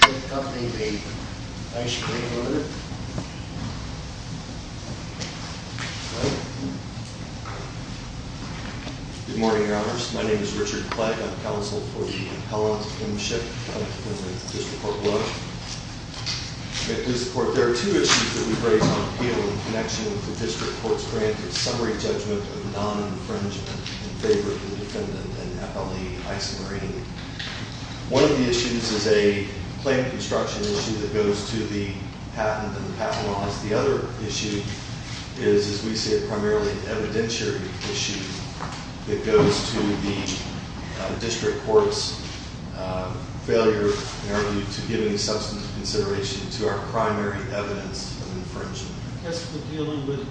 Good morning, Your Honors. My name is Richard Clegg. I'm counsel for the Appellant Kim Ship in the District Court of Law. At this court, there are two issues that we've raised on appeal in connection with the District Court's grant of summary judgment of non-infringement in favor of the defendant and FLE Ice Marine. One of the issues is a claim construction issue that goes to the patent and the patent law. The other issue is, as we say, a primarily evidentiary issue that goes to the District Court's failure, in our view, to give any substantive consideration to our primary evidence of infringement. That's the dealing with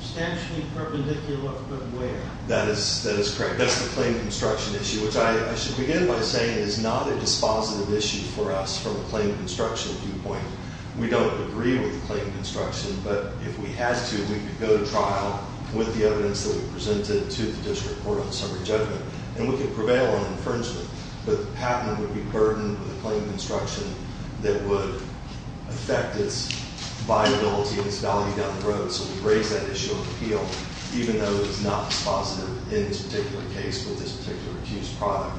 substantially perpendicular but where? That is correct. That's the claim construction issue, which I should begin by saying is not a dispositive issue for us from a claim construction viewpoint. We don't agree with the claim construction, but if we had to, we could go to trial with the evidence that we presented to the District Court on summary judgment, and we could prevail on infringement. But the patent would be burdened with a claim construction that would affect its viability and its value down the road. So we raise that issue of appeal, even though it's not dispositive in this particular case with this particular accused product.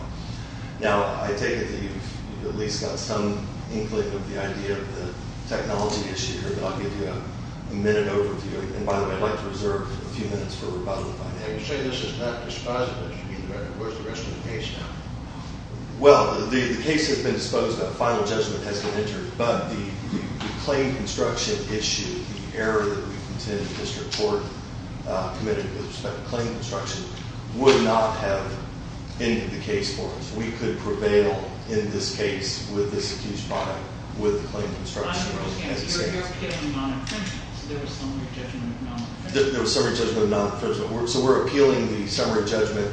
Now, I take it that you've at least got some inkling of the idea of the technology issue here, but I'll give you a minute overview. And by the way, I'd like to reserve a few minutes for rebuttal if I may. Can you say this is not dispositive? Where's the rest of the case now? Well, the case has been disposed of. Final judgment has been entered. But the claim construction issue, the error that we contend the District Court committed with respect to claim construction, would not have ended the case for us. We could prevail in this case with this accused product, with the claim construction as it stands. You're arguing non-infringement. There was summary judgment of non-infringement. There was summary judgment of non-infringement. So we're appealing the summary judgment,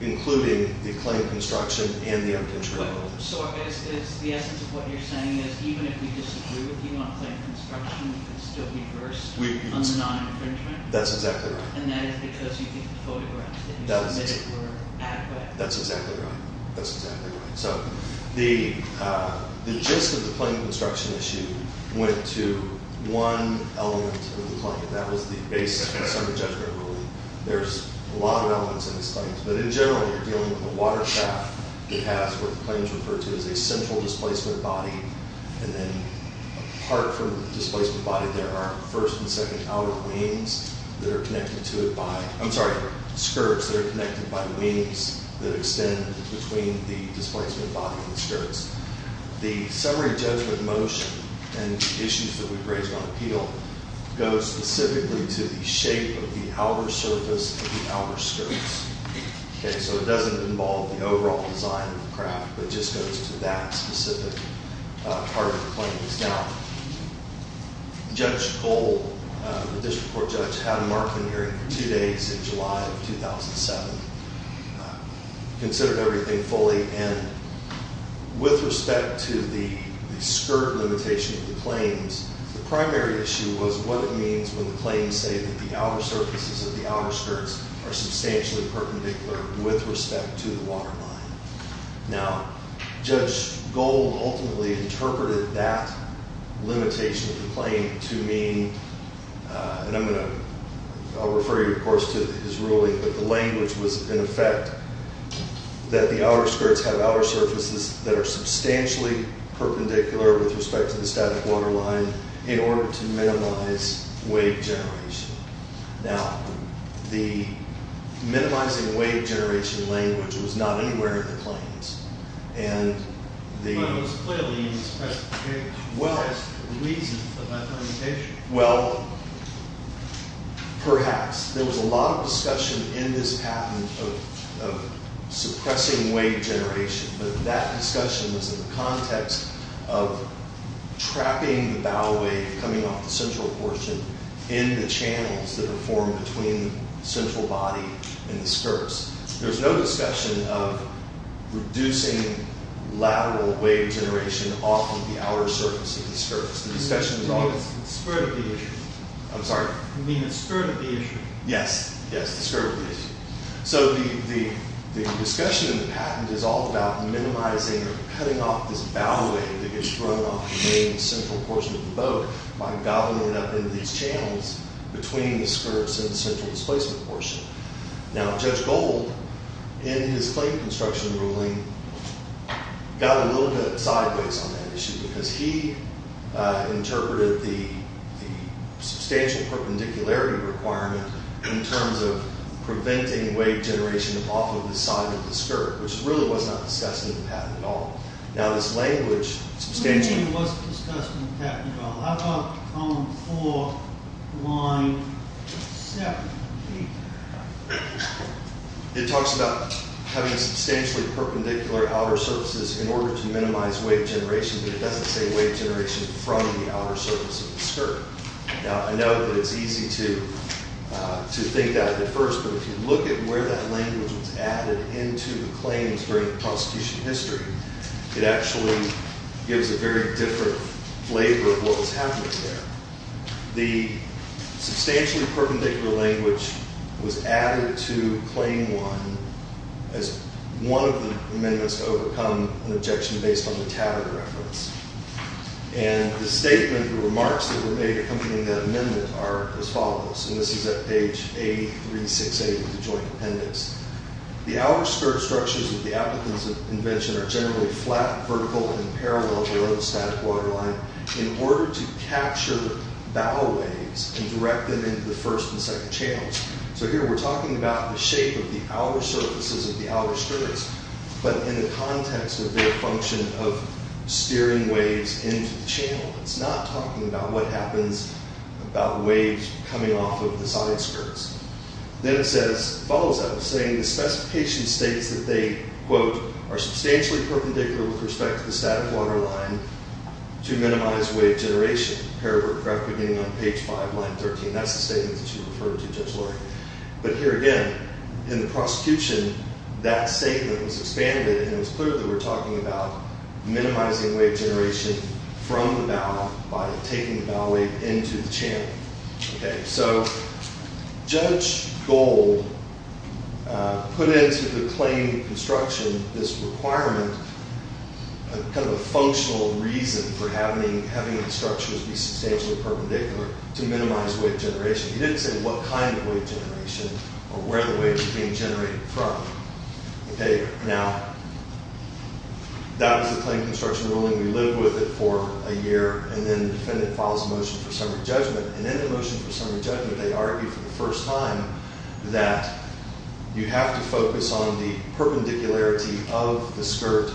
including the claim construction and the infringement. So the essence of what you're saying is even if we disagree with you on claim construction, we can still be versed on the non-infringement? That's exactly right. And that is because you think the photographs that you submitted were adequate. That's exactly right. That's exactly right. So the gist of the claim construction issue went to one element of the claim. That was the base of the summary judgment ruling. There's a lot of elements in these claims. But in general, you're dealing with a water shaft. It has what the claims refer to as a central displacement body. And then apart from the displacement body, there are first and second outer wings that are connected to it by — I'm sorry, skirts that are connected by wings that extend between the displacement body and the skirts. The summary judgment motion and issues that we've raised on appeal go specifically to the shape of the outer surface of the outer skirts. Okay? So it doesn't involve the overall design of the craft, but just goes to that specific part of the claim. Now, Judge Cole, the district court judge, had a markman hearing for two days in July of 2007, considered everything fully. And with respect to the skirt limitation of the claims, the primary issue was what it means when the claims say that the outer surfaces of the outer skirts are substantially perpendicular with respect to the waterline. Now, Judge Cole ultimately interpreted that limitation of the claim to mean — and I'm going to refer you, of course, to his ruling — but the language was, in effect, that the outer skirts have outer surfaces that are substantially perpendicular with respect to the static waterline in order to minimize wave generation. Now, the minimizing wave generation language was not anywhere in the claims, and the — But it was clearly in the suppression of wave generation. Well — That's the reason for that limitation. Well, perhaps. There was a lot of discussion in this patent of suppressing wave generation, but that discussion was in the context of trapping the bow wave coming off the central portion in the channels that are formed between the central body and the skirts. There's no discussion of reducing lateral wave generation off of the outer surface of the skirts. You mean the skirt of the issue. I'm sorry? You mean the skirt of the issue. Yes, yes, the skirt of the issue. So the discussion in the patent is all about minimizing or cutting off this bow wave that gets thrown off the main central portion of the boat by gobbling it up into these channels between the skirts and the central displacement portion. Now, Judge Gold, in his claim construction ruling, got a little bit sideways on that issue because he interpreted the substantial perpendicularity requirement in terms of preventing wave generation off of the side of the skirt, which really was not discussed in the patent at all. Now, this language substantially — It talks about having substantially perpendicular outer surfaces in order to minimize wave generation, but it doesn't say wave generation from the outer surface of the skirt. Now, I know that it's easy to think that at first, but if you look at where that language was added into the claims during the prosecution history, it actually gives a very different flavor of what was happening there. The substantially perpendicular language was added to Claim 1 as one of the amendments to overcome an objection based on the Tavern reference. And the statement, the remarks that were made accompanying that amendment are as follows, and this is at page 8368 of the joint appendix. The outer skirt structures of the applicants' invention are generally flat, vertical, and parallel below the static waterline in order to capture bow waves and direct them into the first and second channels. So here, we're talking about the shape of the outer surfaces of the outer skirts, but in the context of their function of steering waves into the channel. It's not talking about what happens about waves coming off of the side skirts. Then it says, follows up, saying the specification states that they, quote, are substantially perpendicular with respect to the static waterline to minimize wave generation. Paragraph beginning on page 5, line 13. That's the statement that you referred to, Judge Lori. But here again, in the prosecution, that statement was expanded, and it was clear that we're talking about minimizing wave generation from the bow by taking the bow wave into the channel. Okay. So Judge Gold put into the claim construction this requirement, kind of a functional reason for having the structures be substantially perpendicular to minimize wave generation. He didn't say what kind of wave generation or where the waves are being generated from. Okay. Now, that was the claim construction ruling. We lived with it for a year, and then the defendant files a motion for summary judgment. And in the motion for summary judgment, they argue for the first time that you have to focus on the perpendicularity of the skirt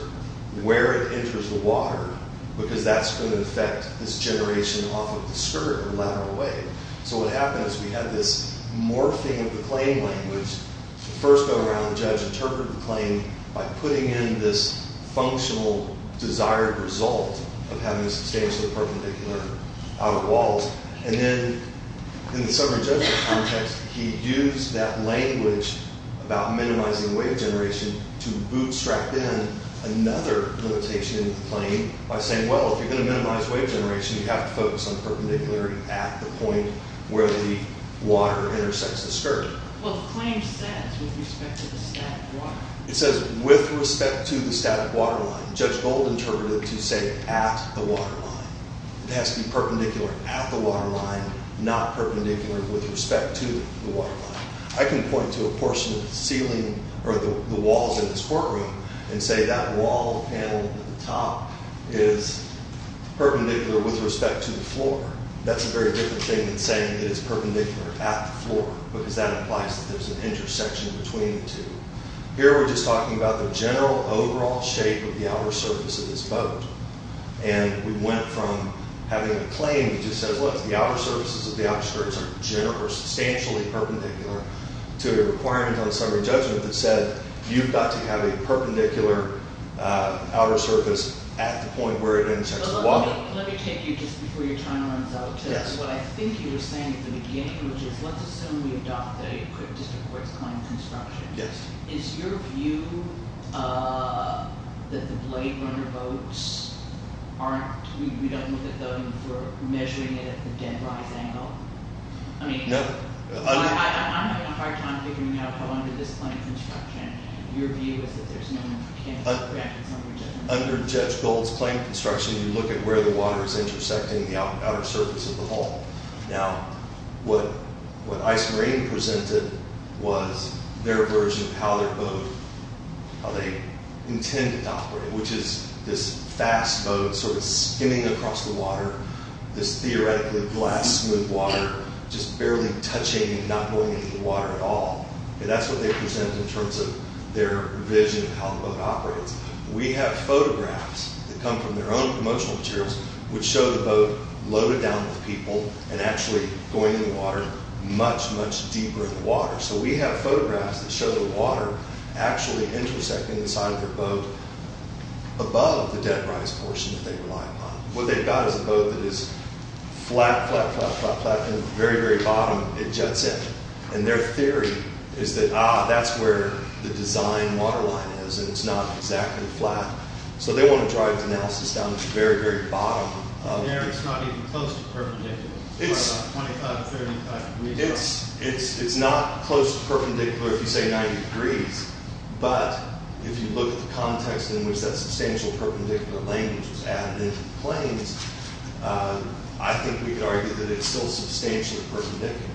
where it enters the water because that's going to affect this generation off of the skirt or lateral wave. So what happened is we had this morphing of the claim language. First go around, the judge interpreted the claim by putting in this functional desired result of having substantially perpendicular out of the walls. And then in the summary judgment context, he used that language about minimizing wave generation to bootstrap in another limitation in the claim by saying, well, if you're going to minimize wave generation, you have to focus on perpendicularity at the point where the water intersects the skirt. Well, the claim says with respect to the static water. It says with respect to the static water line. Judge Gold interpreted it to say at the water line. It has to be perpendicular at the water line, not perpendicular with respect to the water line. I can point to a portion of the ceiling or the walls in this courtroom and say that wall panel at the top is perpendicular with respect to the floor. That's a very different thing than saying it is perpendicular at the floor because that implies that there's an intersection between the two. Here we're just talking about the general overall shape of the outer surface of this boat. And we went from having a claim that just says, look, the outer surfaces of the outer skirts are generally or substantially perpendicular to a requirement on summary judgment that said you've got to have a perpendicular outer surface at the point where it intersects the wall. Let me take you just before your time runs out. Yes. What I think you were saying at the beginning, which is let's assume we adopt a quick district courts claim construction. Yes. Is your view that the Blade Runner boats aren't, we don't look at them for measuring it at the generalized angle? No. I'm having a hard time figuring out how under this claim construction, your view is that there's no chance of a reaction summary judgment. Under Judge Gold's claim construction, you look at where the water is intersecting the outer surface of the hull. Now, what Ice Marine presented was their version of how their boat, how they intend it to operate, which is this fast boat sort of skimming across the water, this theoretically glass smooth water, just barely touching and not going into the water at all. And that's what they present in terms of their vision of how the boat operates. We have photographs that come from their own promotional materials which show the boat loaded down with people and actually going in the water much, much deeper in the water. So we have photographs that show the water actually intersecting the side of their boat above the deck rise portion that they rely upon. What they've got is a boat that is flat, flat, flat, flat, flat, flat, and at the very, very bottom, it juts in. And their theory is that, ah, that's where the design waterline is and it's not exactly flat. So they want to drive analysis down at the very, very bottom. It's not even close to perpendicular. It's not close to perpendicular if you say 90 degrees. But if you look at the context in which that substantial perpendicular language was added into the claims, I think we could argue that it's still substantially perpendicular.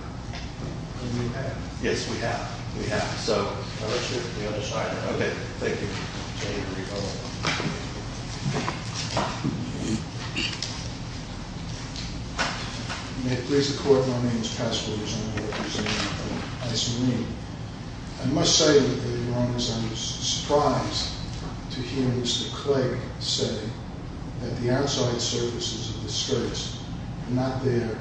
Yes, we have. We have. So. Okay. Thank you. Thank you. May it please the court, my name is Pascoe. I'm a representative of Ice Marine. I must say that I was surprised to hear Mr. Clegg say that the outside surfaces of the struts are not there.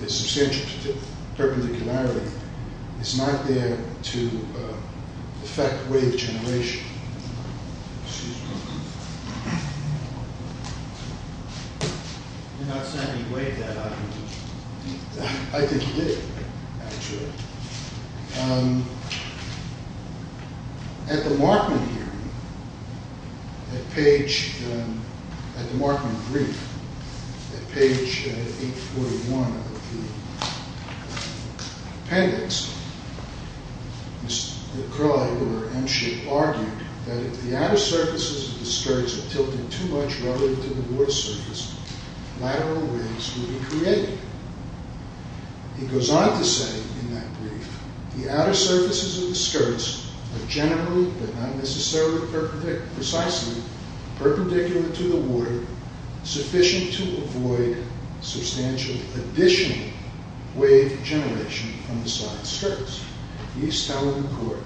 Their substantial perpendicularity is not there to affect wave generation. Excuse me. You're not saying he waived that argument. I think he did, actually. Um, at the Markman hearing, at page, um, at the Markman brief, at page, I think 41 of the appendix, Mr. Clegg, or M. Schiff, argued that if the outer surfaces of the skirts are tilted too much relative to the water surface, lateral waves will be created. He goes on to say in that brief, the outer surfaces of the skirts are generally, but not necessarily precisely, perpendicular to the water, sufficient to avoid substantial additional wave generation from the side skirts. He's telling the court,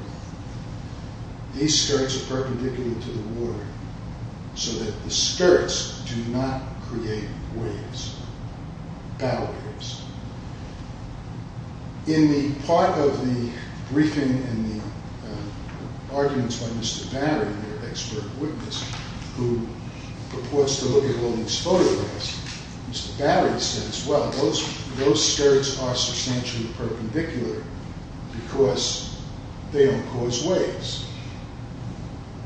these skirts are perpendicular to the water, so that the skirts do not create waves, battle waves. In the part of the briefing and the arguments by Mr. Barry, their expert witness, who reports to look at all these photographs, Mr. Barry says, well, those skirts are substantially perpendicular because they don't cause waves.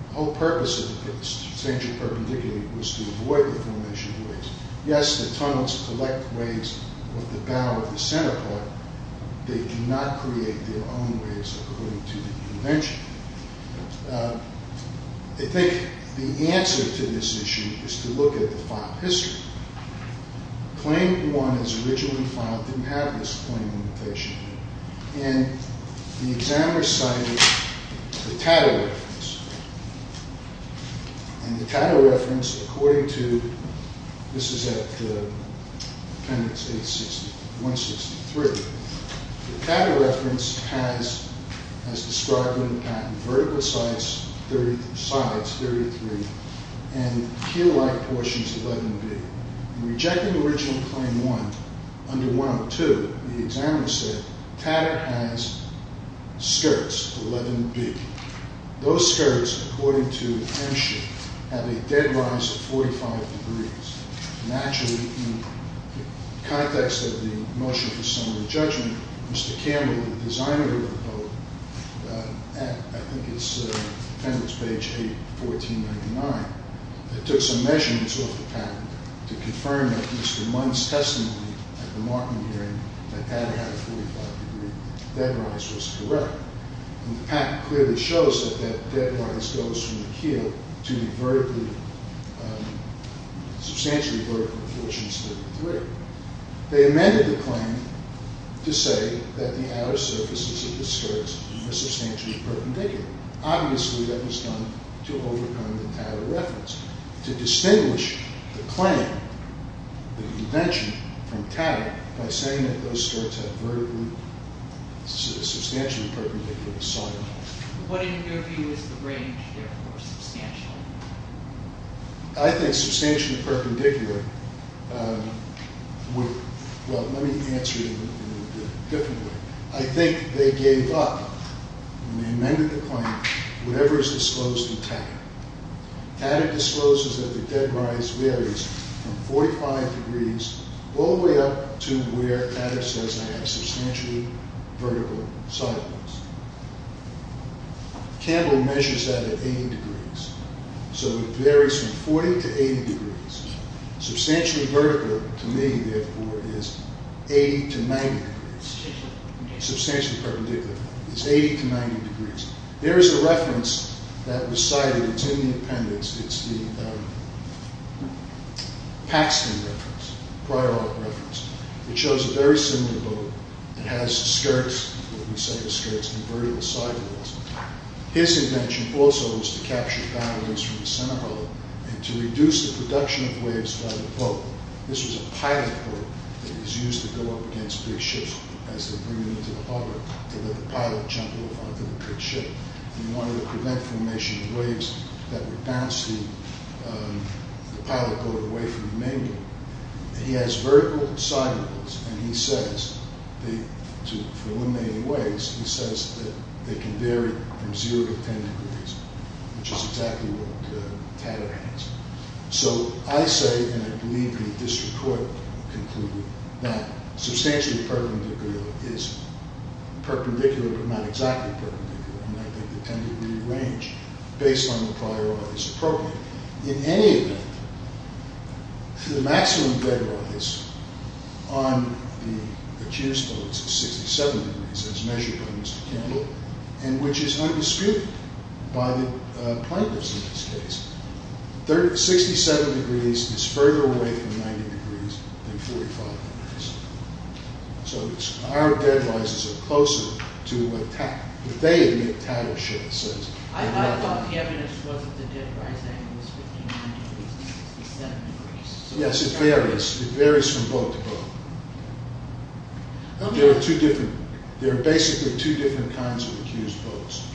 The whole purpose of the substantial perpendicularity was to avoid the formation of waves. Yes, the tunnels collect waves with the bow of the center part. They do not create their own waves according to the convention. I think the answer to this issue is to look at the file history. Claim one is originally filed. It didn't have this claim limitation. And the examiner cited the title reference. And the title reference, according to, this is at appendix 163. The title reference has, as described in the patent, vertical sides, 33, and keel-like portions, 11B. In rejecting original claim one, under 102, the examiner said, Tatter has skirts, 11B. Those skirts, according to Emsham, have a dead rise of 45 degrees. Naturally, in the context of the motion for summary judgment, Mr. Campbell, the designer of the boat, at, I think it's appendix page 8, 1499, took some measurements off the patent to confirm that Mr. Munn's testimony at the marking hearing that Tatter had a 45-degree dead rise was correct. And the patent clearly shows that that dead rise goes from the keel to the substantially vertical portions, 33. They amended the claim to say that the outer surfaces of the skirts were substantially perpendicular. Obviously, that was done to overcome the title reference. To distinguish the claim, the invention, from Tatter, by saying that those skirts had vertically, substantially perpendicular sides. What, in your view, is the range, therefore, substantial? I think substantially perpendicular would, well, let me answer it a little bit differently. I think they gave up, when they amended the claim, whatever is disclosed in Tatter. Tatter discloses that the dead rise varies from 45 degrees, all the way up to where Tatter says they have substantially vertical sidings. Campbell measures that at 80 degrees. So it varies from 40 to 80 degrees. Substantially vertical, to me, therefore, is 80 to 90 degrees. Substantially perpendicular is 80 to 90 degrees. There is a reference that was cited. It's in the appendix. It's the Paxton reference, prior art reference. It shows a very similar boat. It has skirts, what we say are skirts, and vertical sidewalls. His invention, also, was to capture boundaries from the center hull and to reduce the production of waves by the boat. This was a pilot boat that was used to go up against big ships as they were bringing it into the harbor to let the pilot jump over onto the big ship. He wanted to prevent formation of waves that would bounce the pilot boat away from the main boat. He has vertical sidewalls, and he says, for eliminating waves, he says that they can vary from 0 to 10 degrees, which is exactly what Tatter has. So I say, and I believe the district court concluded, that substantially perpendicular is perpendicular, but not exactly perpendicular. And I think the 10 degree range, based on the prior art, is appropriate. In any event, the maximum variance on the accused boat is 67 degrees, as measured by Mr. Campbell, and which is undisputed by the plaintiffs in this case. 67 degrees is further away from 90 degrees than 45 degrees. So our dead rises are closer to what they admit Tatter should have said. I thought the evidence was that the dead rise angle was between 90 degrees and 67 degrees. Yes, it varies. It varies from boat to boat. There are basically two different kinds of accused boats,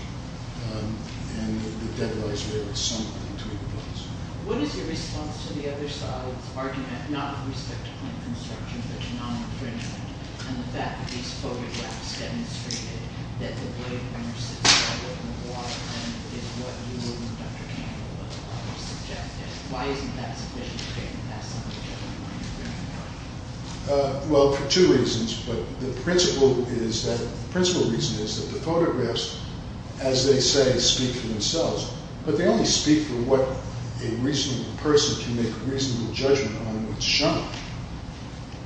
and the dead rise varies somewhat between the boats. What is your response to the other side's argument, not with respect to point construction, but to non-infringement, and the fact that these photographs demonstrated that the way the members of the pilot boat moved water is what you and Dr. Campbell have suggested. Why isn't that a sufficient statement? Well, for two reasons, but the principle reason is that the photographs, as they say, speak for themselves, but they only speak for what a reasonable person can make a reasonable judgment on what's shown.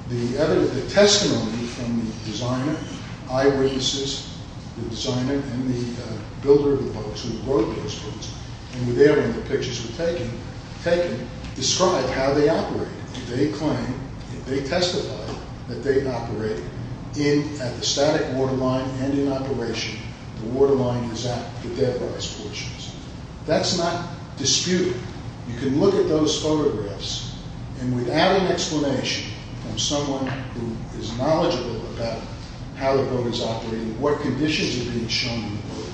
The testimony from the designer, eyewitnesses, the designer, and the builder of the boats who wrote those books, and were there when the pictures were taken, describe how they operate. They claim, they testify that they operate at the static waterline and in operation. The waterline is at the dead rise portions. That's not disputed. You can look at those photographs, and without an explanation from someone who is knowledgeable about how the boat is operating, what conditions are being shown in the boat,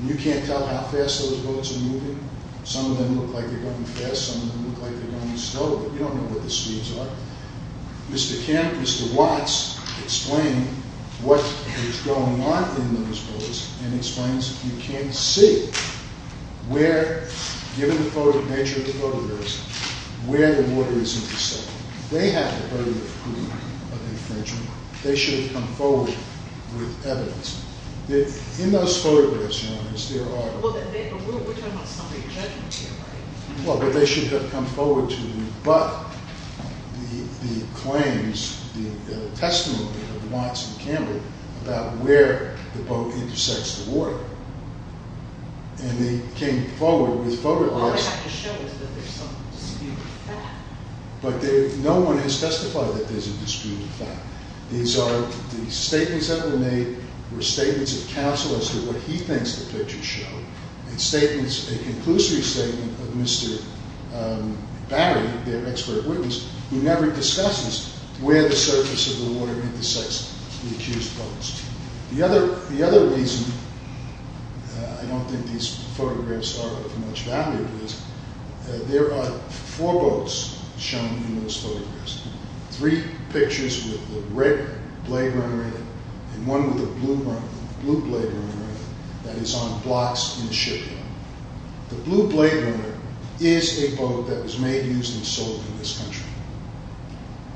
and you can't tell how fast those boats are moving. Some of them look like they're going fast. Some of them look like they're going slowly. You don't know what the speeds are. Mr. Watts explained what is going on in those boats, and explains that you can't see where, given the nature of the photographs, where the water is in the sea. They haven't heard the proof of the infringement. They should have come forward with evidence. In those photographs, Your Honor, there are... We're talking about summary judgment here, right? Well, but they should have come forward to me, but the claims, the testimony of Watts and Campbell about where the boat intersects the water, and they came forward with photographs... All I have to show is that there's some disputed fact. But no one has testified that there's a disputed fact. These are the statements that were made, were statements of counsel as to what he thinks the pictures show, and statements, a conclusory statement of Mr. Barry, their expert witness, who never discusses where the surface of the water intersects the accused boats. The other reason I don't think these photographs are of much value is there are four boats shown in those photographs, three pictures with the red blade runner in it, and one with the blue blade runner in it that is on blocks in the shipyard. The blue blade runner is a boat that was made, used, and sold in this country.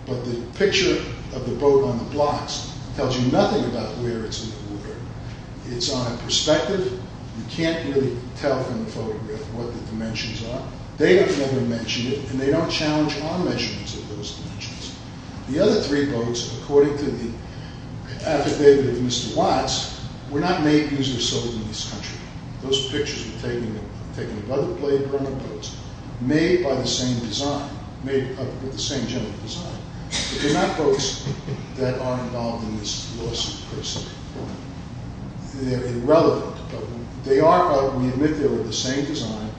But the picture of the boat on the blocks tells you nothing about where it's in the water. It's on a perspective. You can't really tell from the photograph what the dimensions are. They have never mentioned it, and they don't challenge our measurements of those dimensions. The other three boats, according to the affidavit of Mr. Watts, were not made, used, or sold in this country. Those pictures were taken of other blue blade runner boats made by the same design, made with the same general design. But they're not boats that are involved in this lawsuit personally. They're irrelevant, but they are, we admit they were the same design,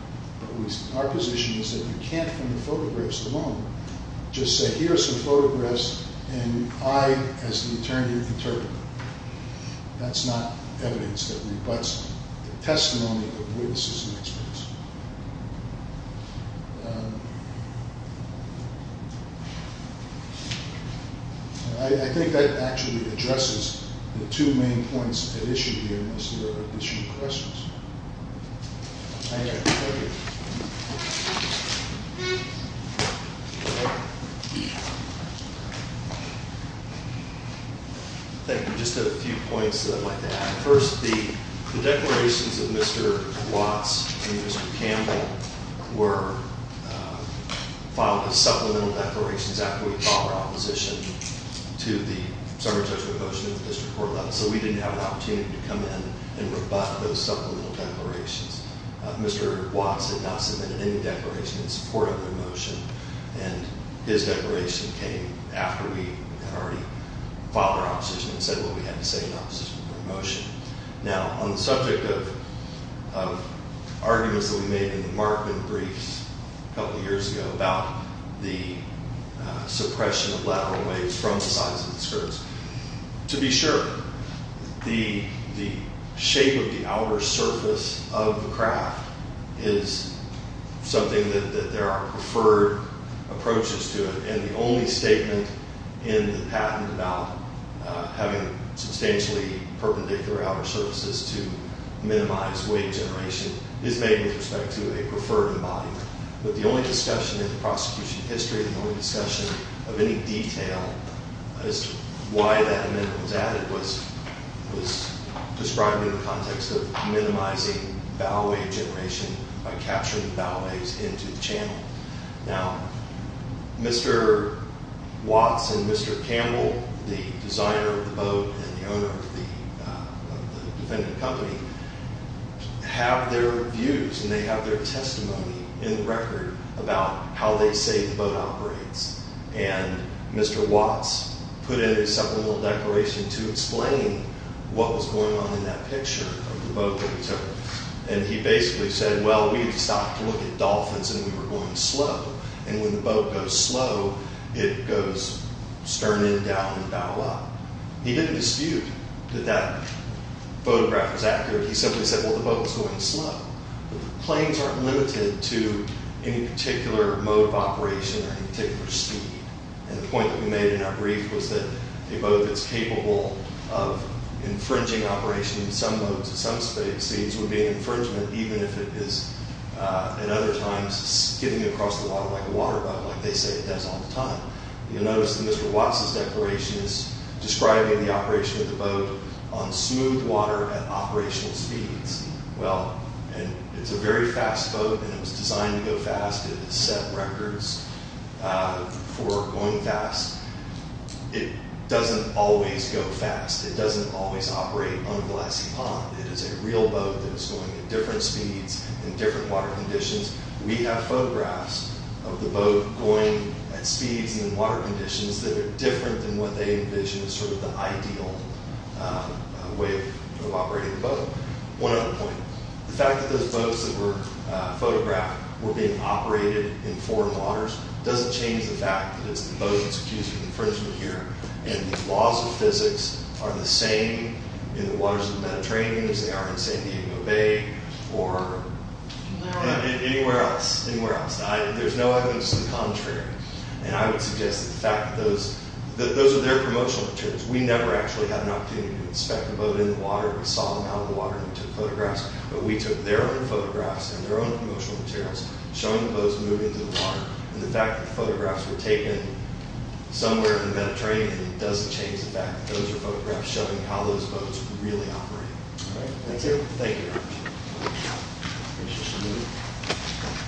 but our position is that you can't from the photographs alone just say, here are some photographs, and I, as the attorney, interpret them. That's not evidence that rebuts the testimony of witnesses and experts. I think that actually addresses the two main points at issue here, unless there are additional questions. Thank you. Thank you. Just a few points that I'd like to add. First, the declarations of Mr. Watts and Mr. Campbell were filed as supplemental declarations after we filed our opposition to the summary judgment motion in the district court level. So we didn't have an opportunity to come in and rebut those supplemental declarations. Mr. Watts had not submitted any declaration in support of the motion, and his declaration came after we had already filed our opposition and said what we had to say in opposition to the motion. Now, on the subject of arguments that we made in the Markman briefs a couple years ago about the suppression of lateral waves from the sides of the skirts, to be sure, the shape of the outer surface of the craft is something that there are preferred approaches to it, and the only statement in the patent about having substantially perpendicular outer surfaces to minimize wave generation is made with respect to a preferred embodiment. But the only discussion in the prosecution history, the only discussion of any detail as to why that amendment was added was described in the context of minimizing bow wave generation by capturing the bow waves into the channel. Now, Mr. Watts and Mr. Campbell, the designer of the boat and the owner of the defendant company, have their views and they have their testimony in the record about how they say the boat operates. And Mr. Watts put in a supplemental declaration to explain what was going on in that picture of the boat. And he basically said, well, we decided to look at dolphins and we were going slow, and when the boat goes slow, it goes stern in, down, and bow up. He didn't dispute that that photograph was accurate. He simply said, well, the boat was going slow. Claims aren't limited to any particular mode of operation or any particular speed. And the point that we made in our brief was that a boat that's capable of infringing operation in some modes at some speeds would be an infringement even if it is, at other times, skidding across the water like a water boat, like they say it does all the time. You'll notice that Mr. Watts' declaration is describing the operation of the boat on smooth water at operational speeds. Well, it's a very fast boat and it was designed to go fast. It has set records for going fast. It doesn't always go fast. It doesn't always operate on a glassy pond. It is a real boat that is going at different speeds and different water conditions. We have photographs of the boat going at speeds and in water conditions that are different than what they envision as sort of the ideal way of operating the boat. One other point. The fact that those boats that were photographed were being operated in foreign waters doesn't change the fact that it's the boat that's accused of infringement here. And these laws of physics are the same in the waters of the Mediterranean as they are in San Diego Bay or anywhere else, anywhere else. There's no evidence to the contrary. And I would suggest that the fact that those are their promotional materials. We never actually had an opportunity to inspect the boat in the water. We saw them out in the water and we took photographs. But we took their own photographs and their own promotional materials showing the boats moving into the water. And the fact that the photographs were taken somewhere in the Mediterranean doesn't change the fact that those are photographs showing how those boats really operate. All right. Thank you. Thank you very much. Appreciate you.